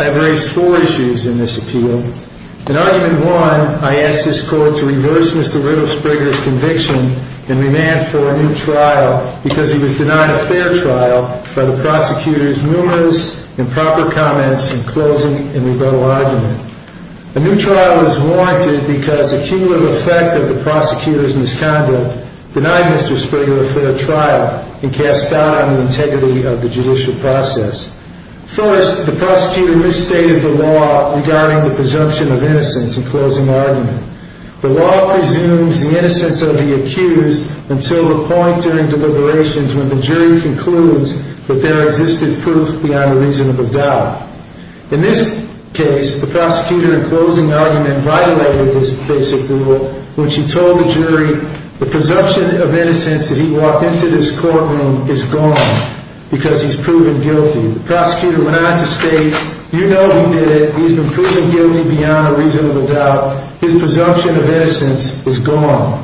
I have raised four issues in this appeal. In Argument 1, I ask this Court to consider whether to reverse Mr. Riddlespriger's conviction and remand for a new trial because he was denied a fair trial by the prosecutor's numerous improper comments in closing and rebuttal argument. A new trial is warranted because the cumulative effect of the prosecutor's misconduct denied Mr. Spriger a fair trial and cast doubt on the integrity of the judicial process. First, the prosecutor misstated the law regarding the presumption of innocence in closing argument. The law presumes the innocence of the accused until the point during deliberations when the jury concludes that there existed proof beyond a reasonable doubt. In this case, the prosecutor in closing argument violated this basic rule when she told the jury the presumption of innocence that he walked into this courtroom is gone because he's proven guilty. The prosecutor went on to state, you know he did it, he's been proven guilty beyond a reasonable doubt, his presumption of innocence is gone.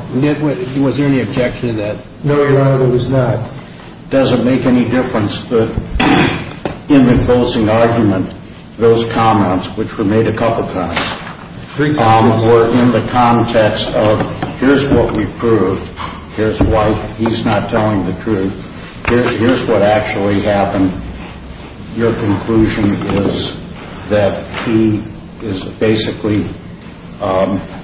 Was there any objection to that? No, Your Honor, there was not. Does it make any difference that in the closing argument, those comments, which were made a couple times, were in the context of here's what we proved, here's why he's not telling the truth, here's what actually happened, your conclusion is that he is basically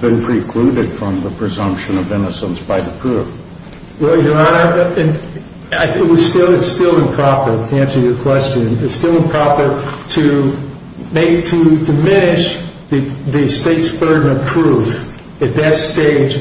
been precluded from the presumption of innocence by the proof. Well, Your Honor, it's still improper, to answer your question, it's still improper to make, to diminish the state's burden of proof at that stage,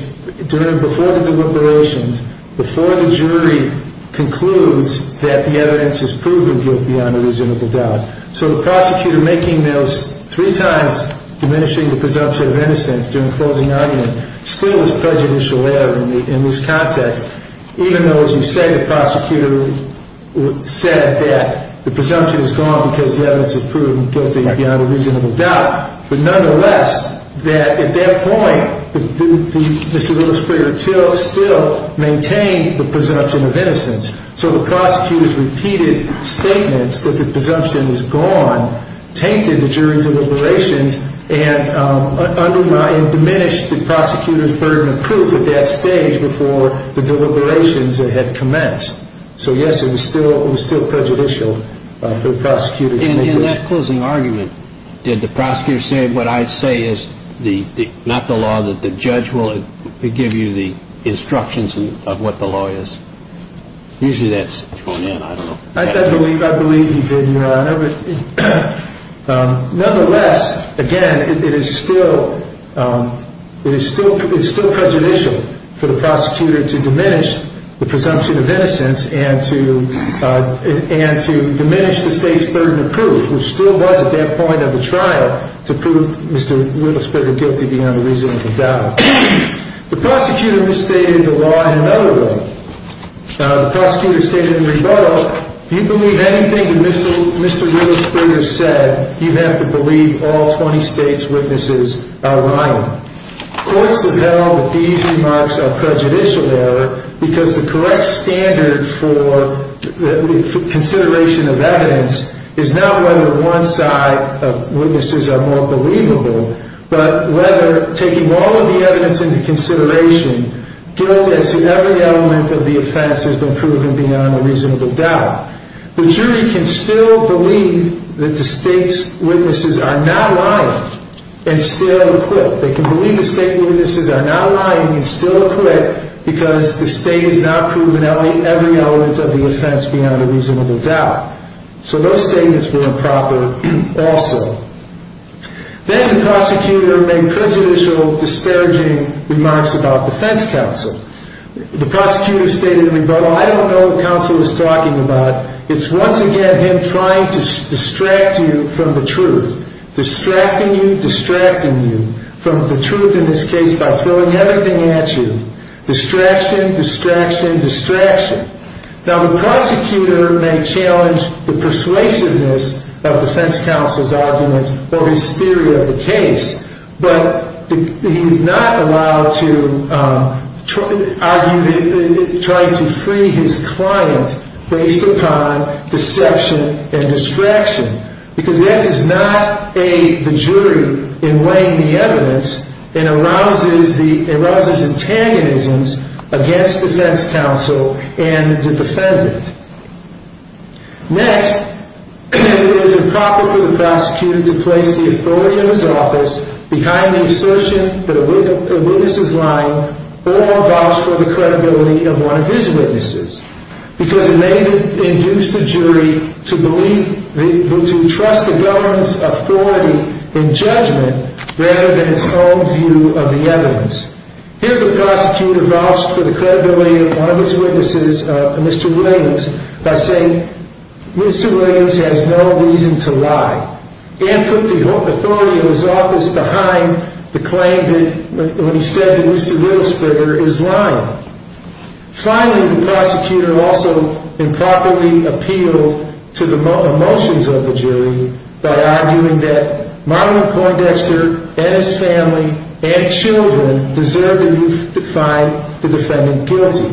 during, before the deliberations, before the jury concludes that the evidence is proven guilty beyond a reasonable doubt. So the prosecutor making those three times diminishing the presumption of innocence during closing argument still is prejudicial error in this context, even though as you said, the prosecutor said that the presumption is gone because the evidence is proven guilty beyond a reasonable doubt. But nonetheless, that at that point, Mr. Willis Prager-Till still maintained the presumption of innocence. So the prosecutor's repeated statements that the presumption is gone, tainted the jury deliberations and undermined, diminished the prosecutor's burden of proof at that stage before the deliberations had commenced. In that closing argument, did the prosecutor say what I say is not the law, that the judge will give you the instructions of what the law is? Usually that's thrown in, I don't know. I believe he did, Your Honor. Nonetheless, again, it is still prejudicial for the prosecutor to diminish the presumption of innocence and to diminish the state's burden of proof, which still was at that point of the trial to prove Mr. Willis Prager guilty beyond a reasonable doubt. The prosecutor misstated the law in another way. The prosecutor stated in the rebuttal, if you believe anything that Mr. Willis Prager said, you have to believe all 20 state's witnesses are lying. Courts have held that these remarks are prejudicial, Your Honor, because the correct standard for consideration of evidence is not whether one side of witnesses are more believable, but whether taking all of the evidence into consideration, guilt as in every element of the offense has been proven beyond a reasonable doubt. The jury can still believe that the state's witnesses are not lying and still acquit. They can believe the state's witnesses are not lying and still acquit because the state has not proven every element of the offense beyond a reasonable doubt. So those statements were improper also. Then the prosecutor made prejudicial, disparaging remarks about defense counsel. The prosecutor stated in the rebuttal, I don't know what counsel is talking about. It's once again him trying to distract you from the truth. Distracting you, distracting you from the truth in this case by throwing everything at you. Distraction, distraction, distraction. Now the prosecutor may challenge the persuasiveness of defense counsel's argument or his theory of the case, but he is not allowed to argue, try to free his client based upon deception and distraction because that does not aid the jury in weighing the evidence and arouses antagonisms against defense counsel and the defendant. Next, it is improper for the prosecutor to place the authority of his office behind the assertion that a witness is lying or vouch for the credibility of one of his witnesses because it may induce the jury to believe, to trust the government's authority in judgment rather than its own view of the evidence. Here the prosecutor vouched for the credibility of one of his witnesses, Mr. Williams, by saying Mr. Williams has no reason to lie and put the authority of his office behind the claim that when he said that Mr. Wittelsberger is lying. Finally, the prosecutor also improperly appealed to the emotions of the jury by arguing that Marlon Poindexter and his family and children deserve to find the defendant guilty.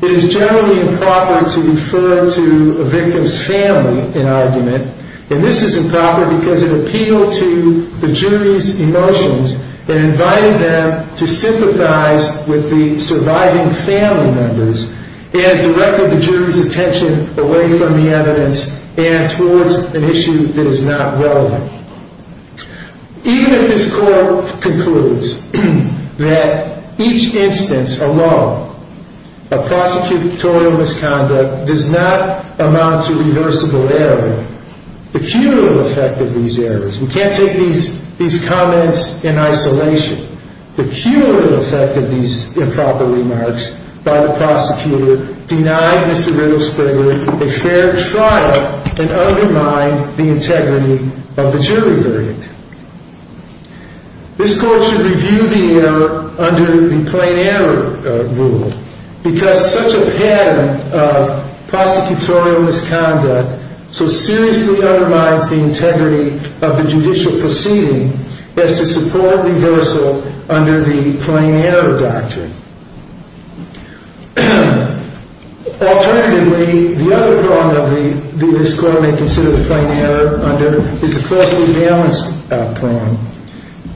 It is generally improper to refer to a victim's family in argument, and this is improper because it appealed to the jury's emotions and invited them to sympathize with the surviving family members and directed the jury's attention away from the evidence and towards an issue that is not relevant. Even if this court concludes that each instance alone of prosecutorial misconduct does not amount to reversible error, the cumulative effect of these errors, we can't take these comments in isolation, the cumulative effect of these improper remarks by the prosecutor denied Mr. Wittelsberger a fair trial and undermined the integrity of the jury verdict. This court should review the error under the plain error rule because such a pattern of prosecutorial misconduct so seriously undermines the integrity of the judicial proceeding as to support reversal under the plain error doctrine. Alternatively, the other problem that this court may consider the plain error under is the costly bail plan.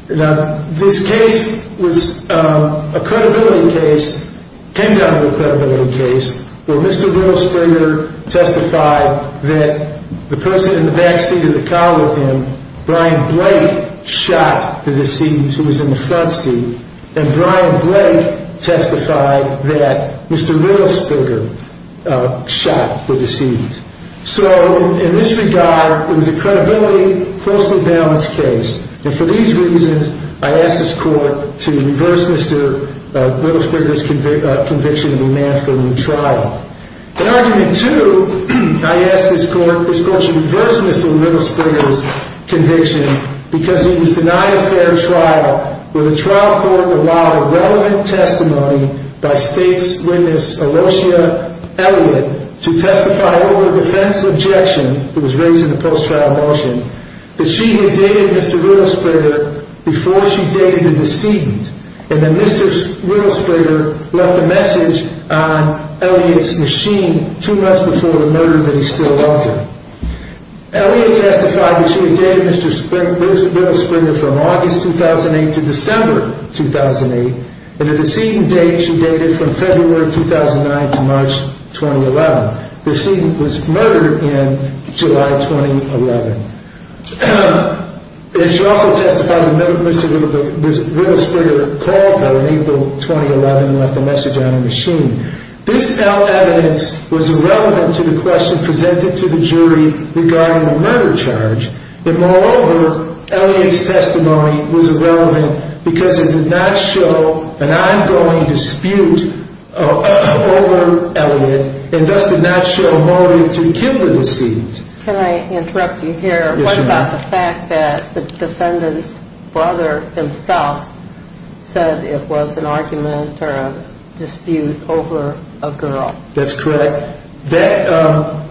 Now, this case was a credibility case, came down to a credibility case, where Mr. Wittelsberger testified that the person in the back seat of the car with him, Brian Blake, shot the decedent who was in the front seat, and Brian Blake testified that Mr. Wittelsberger shot the decedent. So, in this regard, it was a credibility, costly balance case. And for these reasons, I ask this court to reverse Mr. Wittelsberger's conviction and demand for a new trial. In argument two, I ask this court to reverse Mr. Wittelsberger's conviction because he was denied a fair trial where the trial court allowed relevant testimony by state's witness Alosia Elliott to testify over a defense objection that was raised in the post-trial motion that she had dated Mr. Wittelsberger before she dated the decedent, and that Mr. Wittelsberger left a message on Elliott's machine two months before the murder that he still loved her. Elliott testified that she had dated Mr. Wittelsberger from August 2008 to December 2008, and the decedent from 2009 to March 2011. The decedent was murdered in July 2011. It should also testify that Mr. Wittelsberger called her in April 2011 and left a message on her machine. This evidence was irrelevant to the question presented to the jury regarding the murder charge, and moreover, Elliott's testimony was irrelevant because it did not show an ongoing dispute over Elliott, and thus did not show motive to kill the decedent. Can I interrupt you here? Yes, you may. What about the fact that the defendant's brother himself said it was an argument or a dispute over a girl? That's correct. That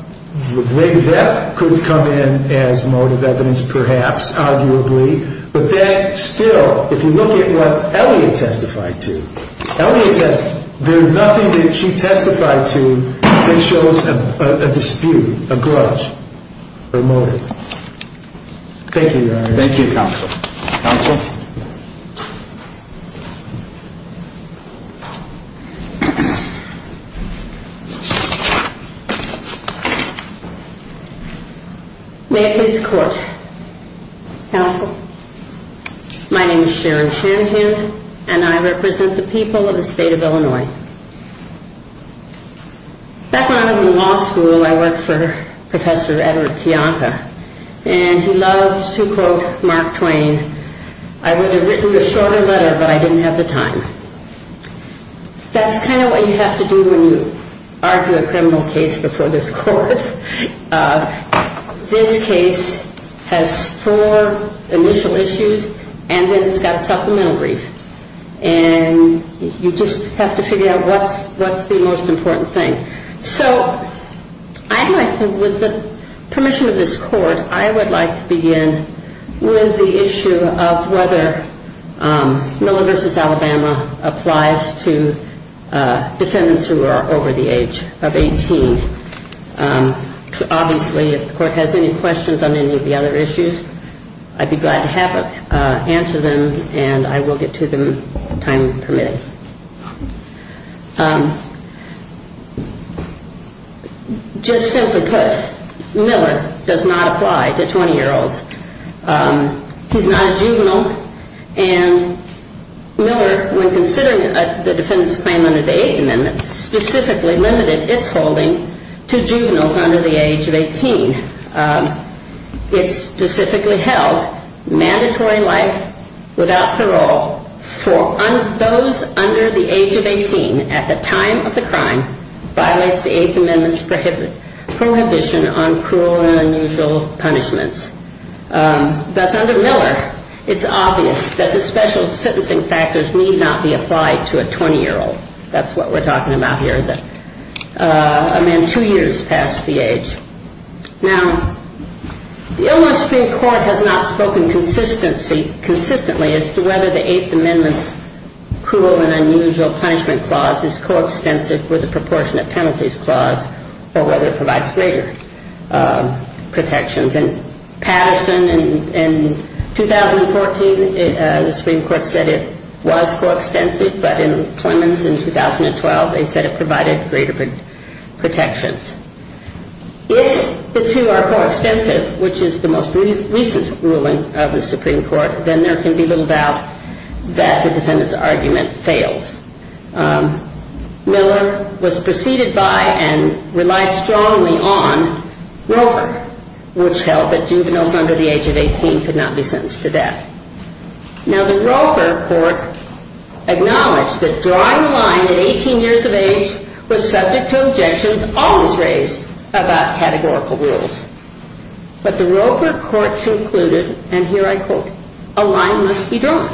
could have come in as motive evidence, perhaps, arguably, but that still, if you look at what Elliott testified to, there's nothing that she testified to that shows a dispute, a grudge, or motive. Thank you, Your Honor. Thank you, Counsel. Counsel? May I please court? Counsel? My name is Sharon Shanahan, and I represent the people of the state of Illinois. Back when I was in law school, I worked for Professor Edward Kiyanka, and he loved to quote Mark Twain, I would have written a shorter letter, but I didn't have the time. That's kind of what you have to do when you argue a criminal case before this court. This case has four initial issues, and then it's got supplemental brief. And you just have to figure out what's the most important thing. So I would like to, with the permission of this court, I would like to begin with the issue of whether Miller v. Alabama applies to defendants who are over the age of 18. Obviously, if the court has any questions on any of the other issues, I'd be glad to answer them, and I will get to them on time permitted. Just simply put, Miller does not apply to 20-year-olds. He's not a juvenile. And Miller, when considering the defendant's claim under the Eighth Amendment, specifically limited its holding to juveniles under the age of 18. It specifically held mandatory life without parole for those under the age of 18 at the time of the crime violates the Eighth Amendment's prohibition on cruel and unusual punishments. Thus, under Miller, it's obvious that the special sentencing factors need not be applied to a 20-year-old. That's what we're talking about here, is a man two years past the age. Now, the Illinois Supreme Court has not spoken consistently as to whether the Eighth Amendment's cruel and unusual punishment clause is coextensive with the proportionate penalties clause or whether it provides greater protections. And Patterson, in 2014, the Supreme Court said it was coextensive, but in Williams, in 2012, they said it provided greater protections. If the two are coextensive, which is the most recent ruling of the Supreme Court, then there can be little doubt that the defendant's argument fails. Miller was preceded by and relied strongly on Roper, which held that juveniles under the age of 18 could not be sentenced to death. Now, the Roper court acknowledged that drawing the line at 18 years of age was subject to objections always raised about categorical rules. But the Roper court concluded, and here I quote, a line must be drawn.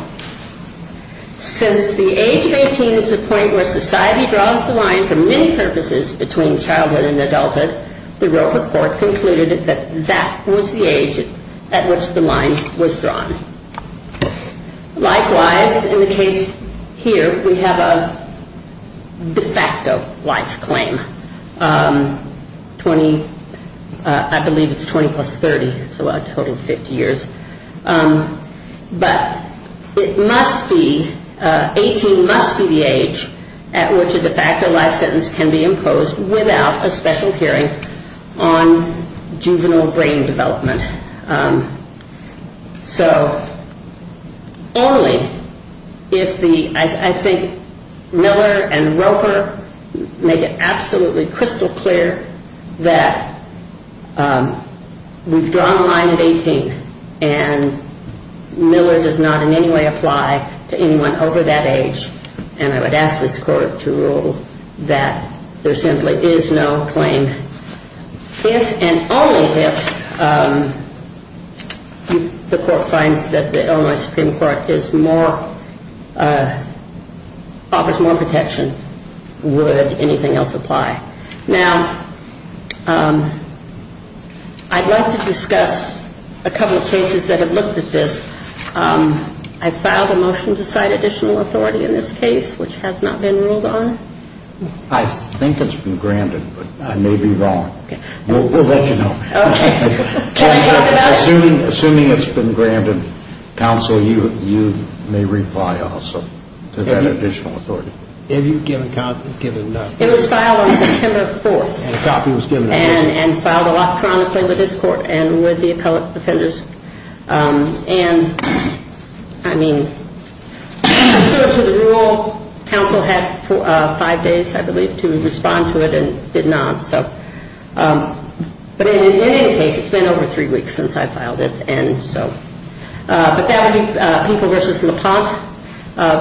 Since the age of 18 is the point where society draws the line for many purposes between childhood and adulthood, the Roper court concluded that that was the age at which the line was drawn. Likewise, in the case here, we have a de facto life claim. 20, I believe it's 20 plus 30, so a total of 50 years. But it must be, 18 must be the age at which a de facto life sentence can be imposed without a special hearing on juvenile brain development. So only if the, I think Miller and Roper make it absolutely crystal clear that we've drawn the line at 18, and Miller does not in any way apply to anyone over that age. And I would ask this court to rule that there simply is no claim. If and only if the court finds that the Illinois Supreme Court is more, offers more protection, would anything else apply? Now, I'd like to discuss a couple of cases that have looked at this. I filed a motion to cite additional authority in this case, which has not been ruled on. I think it's been granted, but I may be wrong. We'll let you know. Assuming it's been granted, counsel, you may reply also to that additional authority. It was filed on September 4th. And filed electronically with this court and with the appellate offenders. And, I mean, I stood to the rule. Counsel had five days, I believe, to respond to it and did not. But in any case, it's been over three weeks since I filed it. But that would be People v. LaPont,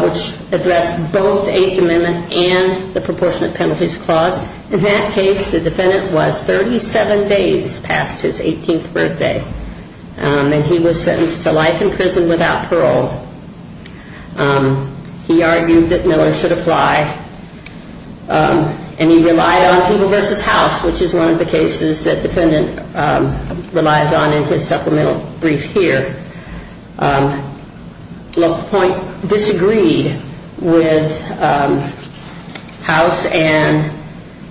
which addressed both the Eighth Amendment and the Proportionate Penalties Clause. In that case, the defendant was 37 days past his 18th birthday, and he was sentenced to life in prison without parole. He argued that Miller should apply, and he relied on People v. House, which is one of the cases that the defendant relies on in his supplemental brief here. LaPont disagreed with House and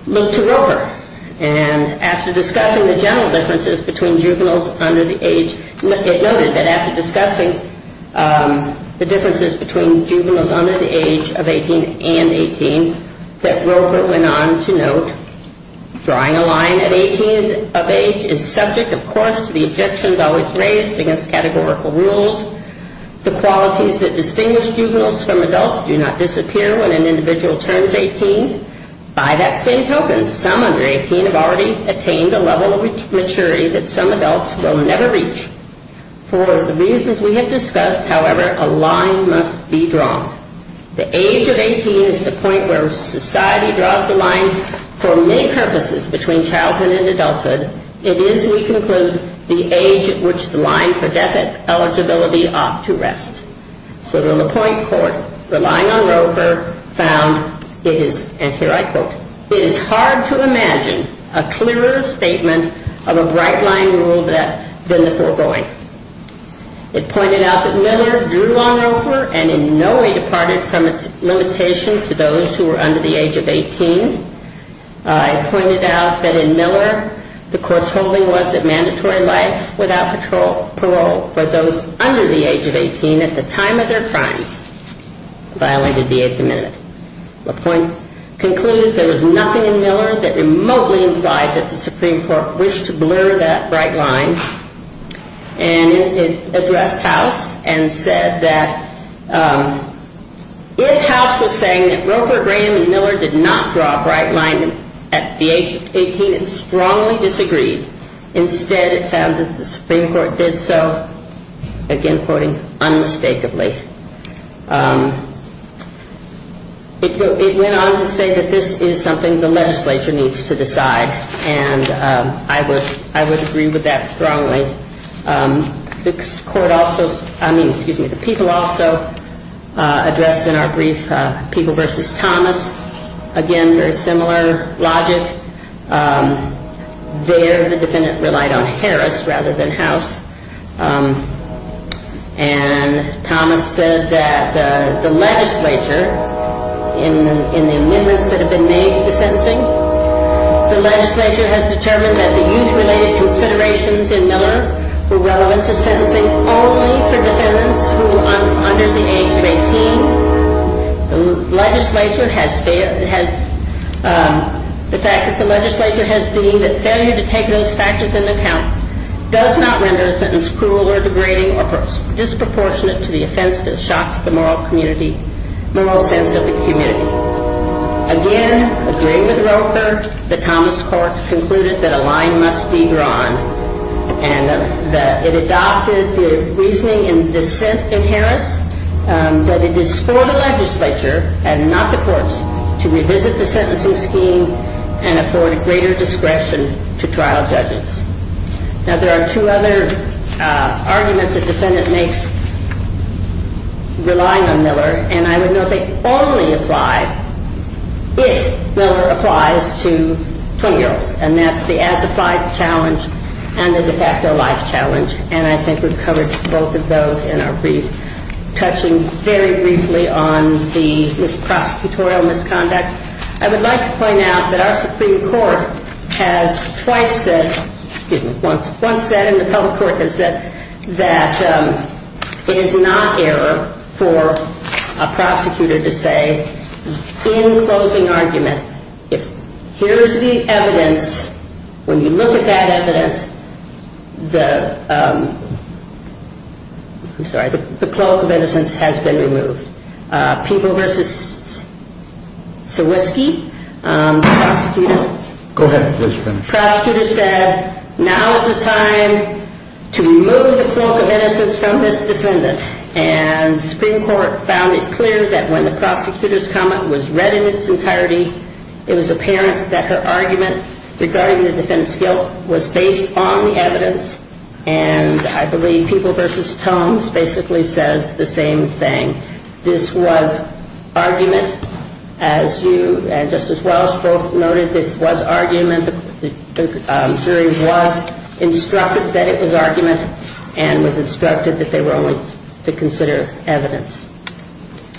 looked to Roper. And after discussing the general differences between juveniles under the age, it noted that after discussing the differences between juveniles under the age of 18 and 18, that Roper went on to note drawing a line at 18 of age is subject, of course, to the objections always raised against categorical rules. The qualities that distinguish juveniles from adults do not disappear when an individual turns 18. By that same token, some under 18 have already attained a level of maturity that some adults will never reach. For the reasons we have discussed, however, a line must be drawn. The age of 18 is the point where society draws the line for many purposes between childhood and adulthood. It is, we conclude, the age at which the line for death eligibility ought to rest. So the LaPont court, relying on Roper, found it is, and here I quote, it is hard to imagine a clearer statement of a right-lying rule than the foregoing. It pointed out that Miller drew on Roper and in no way departed from its limitation to those who were under the age of 18. It pointed out that in Miller the court's holding was that mandatory life without parole for those under the age of 18 at the time of their crimes violated the Eighth Amendment. LaPont concluded there was nothing in Miller that remotely implied that the Supreme Court wished to blur that right line. And it addressed House and said that if House was saying that Roper, Graham, and Miller did not draw a bright line at the age of 18 and strongly disagreed, instead it found that the Supreme Court did so, again quoting, unmistakably. It went on to say that this is something the legislature needs to decide and I would agree with that strongly. The court also, I mean, excuse me, the people also addressed in our brief people versus Thomas. Again, very similar logic. There the defendant relied on Harris rather than House. And Thomas said that the legislature, in the amendments that have been made to the sentencing, the legislature has determined that the youth-related considerations in Miller were relevant to sentencing only for defendants who were under the age of 18. The fact that the legislature has deemed that failure to take those factors into account does not render a sentence cruel or degrading or disproportionate to the offense that shocks the moral sense of the community. Again, agreeing with Roper, the Thomas Court concluded that a line must be drawn and that it adopted the reasoning and dissent in Harris that it is for the legislature and not the courts to revisit the sentencing scheme and afford greater discretion to trial judges. Now there are two other arguments the defendant makes relying on Miller and I would note they only apply if Miller applies to 20-year-olds and that's the as-applied challenge and the de facto life challenge and I think we've covered both of those in our brief. Touching very briefly on the prosecutorial misconduct, I would like to point out that our Supreme Court has twice said, excuse me, once said and the public court has said that it is not error for a prosecutor to say in closing argument if here's the evidence, when you look at that evidence, the cloak of innocence has been removed. People v. Sawisky, the prosecutor said now is the time to remove the cloak of innocence from this defendant and the Supreme Court found it clear that when the prosecutor's comment was read in its entirety, it was apparent that her argument regarding the defendant's guilt was based on the evidence and I believe People v. Tomes basically says the same thing. This was argument as you and Justice Welch both noted, this was argument, the jury was instructed that it was argument and was instructed that they were only to consider evidence.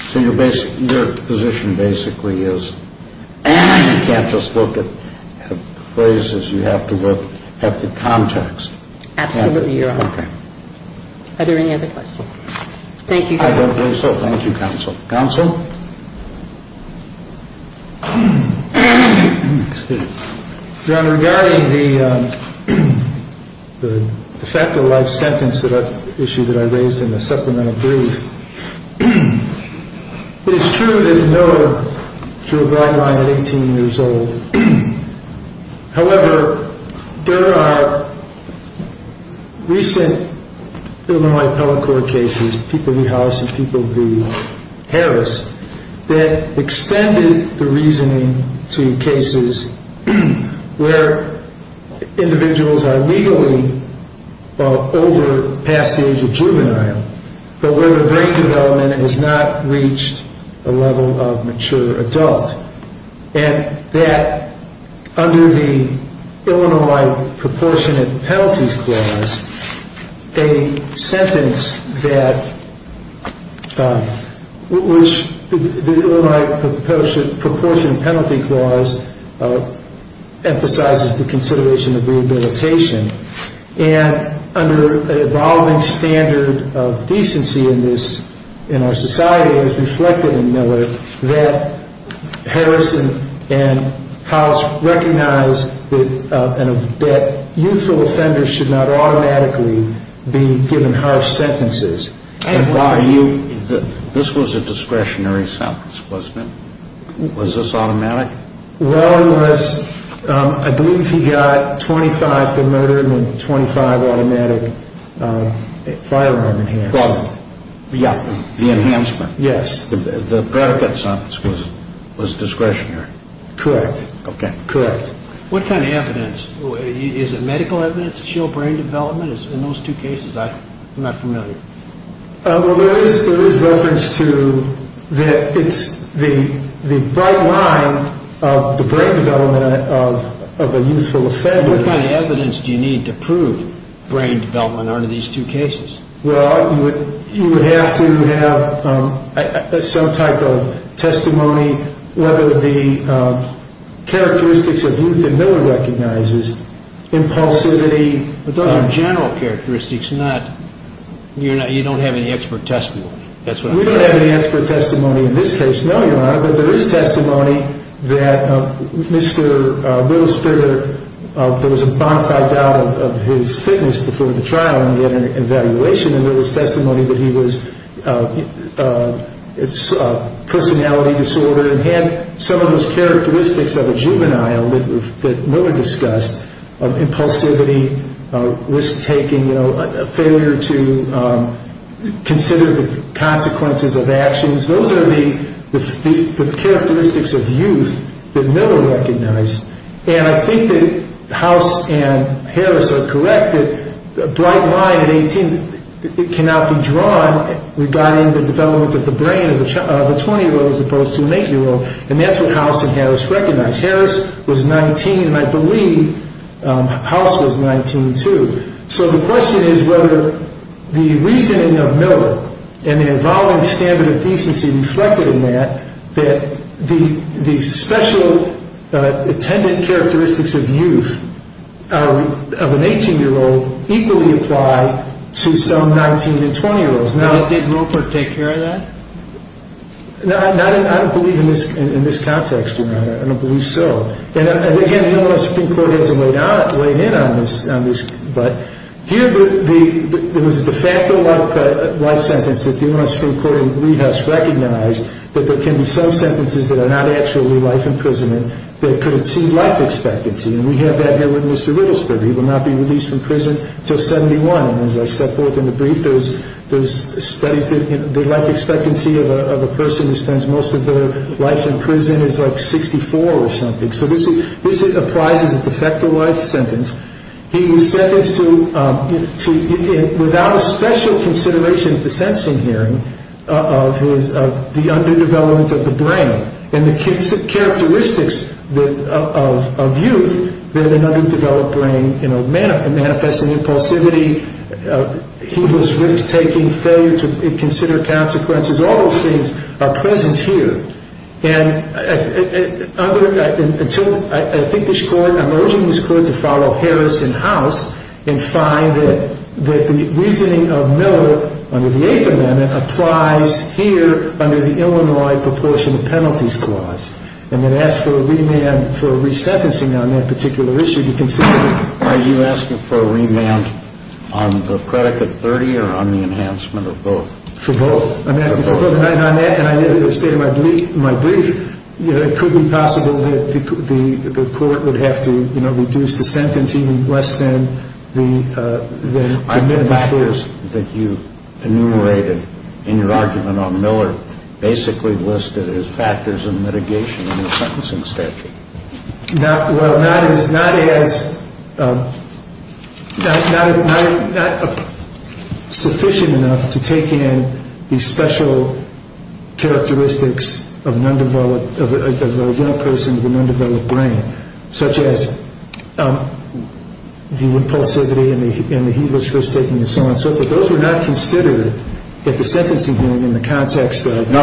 So your position basically is you can't just look at phrases, you have to look at the context. Absolutely, Your Honor. Okay. Are there any other questions? Thank you. I don't think so. Thank you, Counsel. Counsel? Your Honor, regarding the fact of life sentence issue that I raised in the supplemental brief, it is true there is no juror guideline at 18 years old. However, there are recent Illinois appellate court cases, People v. House and People v. Harris, that extended the reasoning to cases where individuals are legally older, past the age of juvenile, but where the brain development has not reached the level of mature adult. And that under the Illinois Proportionate Penalties Clause, a sentence that, which the Illinois Proportionate Penalty Clause emphasizes the consideration of rehabilitation and under an evolving standard of decency in this, in our society, it is reflected in Miller that Harris and House recognize that youthful offenders should not automatically be given harsh sentences. And by you, this was a discretionary sentence, wasn't it? Was this automatic? Well, it was. I believe he got 25 for murder and 25 automatic firearm enhancement. Yeah. The enhancement. Yes. The predicate sentence was discretionary. Correct. Okay. Correct. What kind of evidence? Is it medical evidence to show brain development? In those two cases, I'm not familiar. Well, there is reference to that it's the bright line of the brain development of a youthful offender. What kind of evidence do you need to prove brain development under these two cases? Well, you would have to have some type of testimony, whether the characteristics of youth that Miller recognizes, impulsivity. But those are general characteristics. You don't have any expert testimony. We don't have any expert testimony in this case, no, Your Honor, but there is testimony that Mr. Willis-Spitter, there was a bonafide doubt of his fitness before the trial and we had an evaluation of Willis' testimony that he was a personality disorder and had some of those characteristics of a juvenile that Miller discussed, impulsivity, risk-taking, a failure to consider the consequences of actions. Those are the characteristics of youth that Miller recognized. And I think that House and Harris are correct that a bright line at 18 cannot be drawn regarding the development of the brain of a 20-year-old as opposed to an 8-year-old, and that's what House and Harris recognized. Harris was 19 and I believe House was 19 too. So the question is whether the reasoning of Miller and the evolving standard of decency reflected in that that the special attendant characteristics of youth of an 18-year-old equally apply to some 19- and 20-year-olds. Did Roper take care of that? No, I don't believe in this context, Your Honor. I don't believe so. And again, the U.S. Supreme Court has a way in on this, but here it was the fact of life sentence that the U.S. Supreme Court in Rehouse recognized that there can be some sentences that are not actually life imprisonment that could exceed life expectancy, and we have that here with Mr. Riddlespitter. He will not be released from prison until 71, and as I set forth in the brief, there's studies that the life expectancy of a person who spends most of their life in prison is like 64 or something. So this applies as a de facto life sentence. He was sentenced to, without a special consideration at the sentencing hearing, of the underdevelopment of the brain and the characteristics of youth that an underdeveloped brain manifests and impulsivity, he was risk-taking, failure to consider consequences. All those things are present here. And I think this Court, I'm urging this Court to follow Harris in House and find that the reasoning of Miller under the Eighth Amendment applies here under the Illinois Proportion of Penalties Clause and then ask for a remand for resentencing on that particular issue to consider. Are you asking for a remand on the predicate 30 or on the enhancement of both? For both. I'm asking for both. And on that, and I did it in the state of my brief, it could be possible that the Court would have to reduce the sentence even less than the minimum sentence. Are the factors that you enumerated in your argument on Miller basically listed as factors of mitigation in the sentencing statute? Well, not as sufficient enough to take in the special characteristics of a young person with an undeveloped brain, such as the impulsivity and the he was risk-taking and so on and so forth. Those were not considered at the sentencing hearing in the context of the-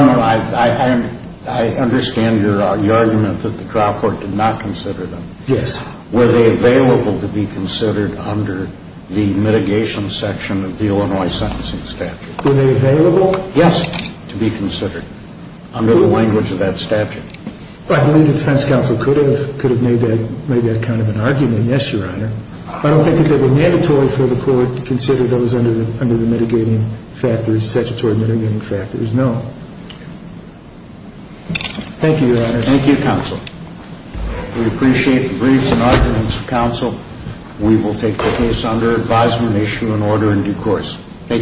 Yes. Were they available to be considered under the mitigation section of the Illinois sentencing statute? Were they available? Yes, to be considered under the language of that statute. I believe the defense counsel could have made that kind of an argument. Yes, Your Honor. I don't think that they were mandatory for the Court to consider those under the mitigating factors, statutory mitigating factors. No. Thank you, Your Honor. Thank you, Counsel. We appreciate the briefs and arguments of counsel. We will take the case under advisement, issue an order in due course. Thank you.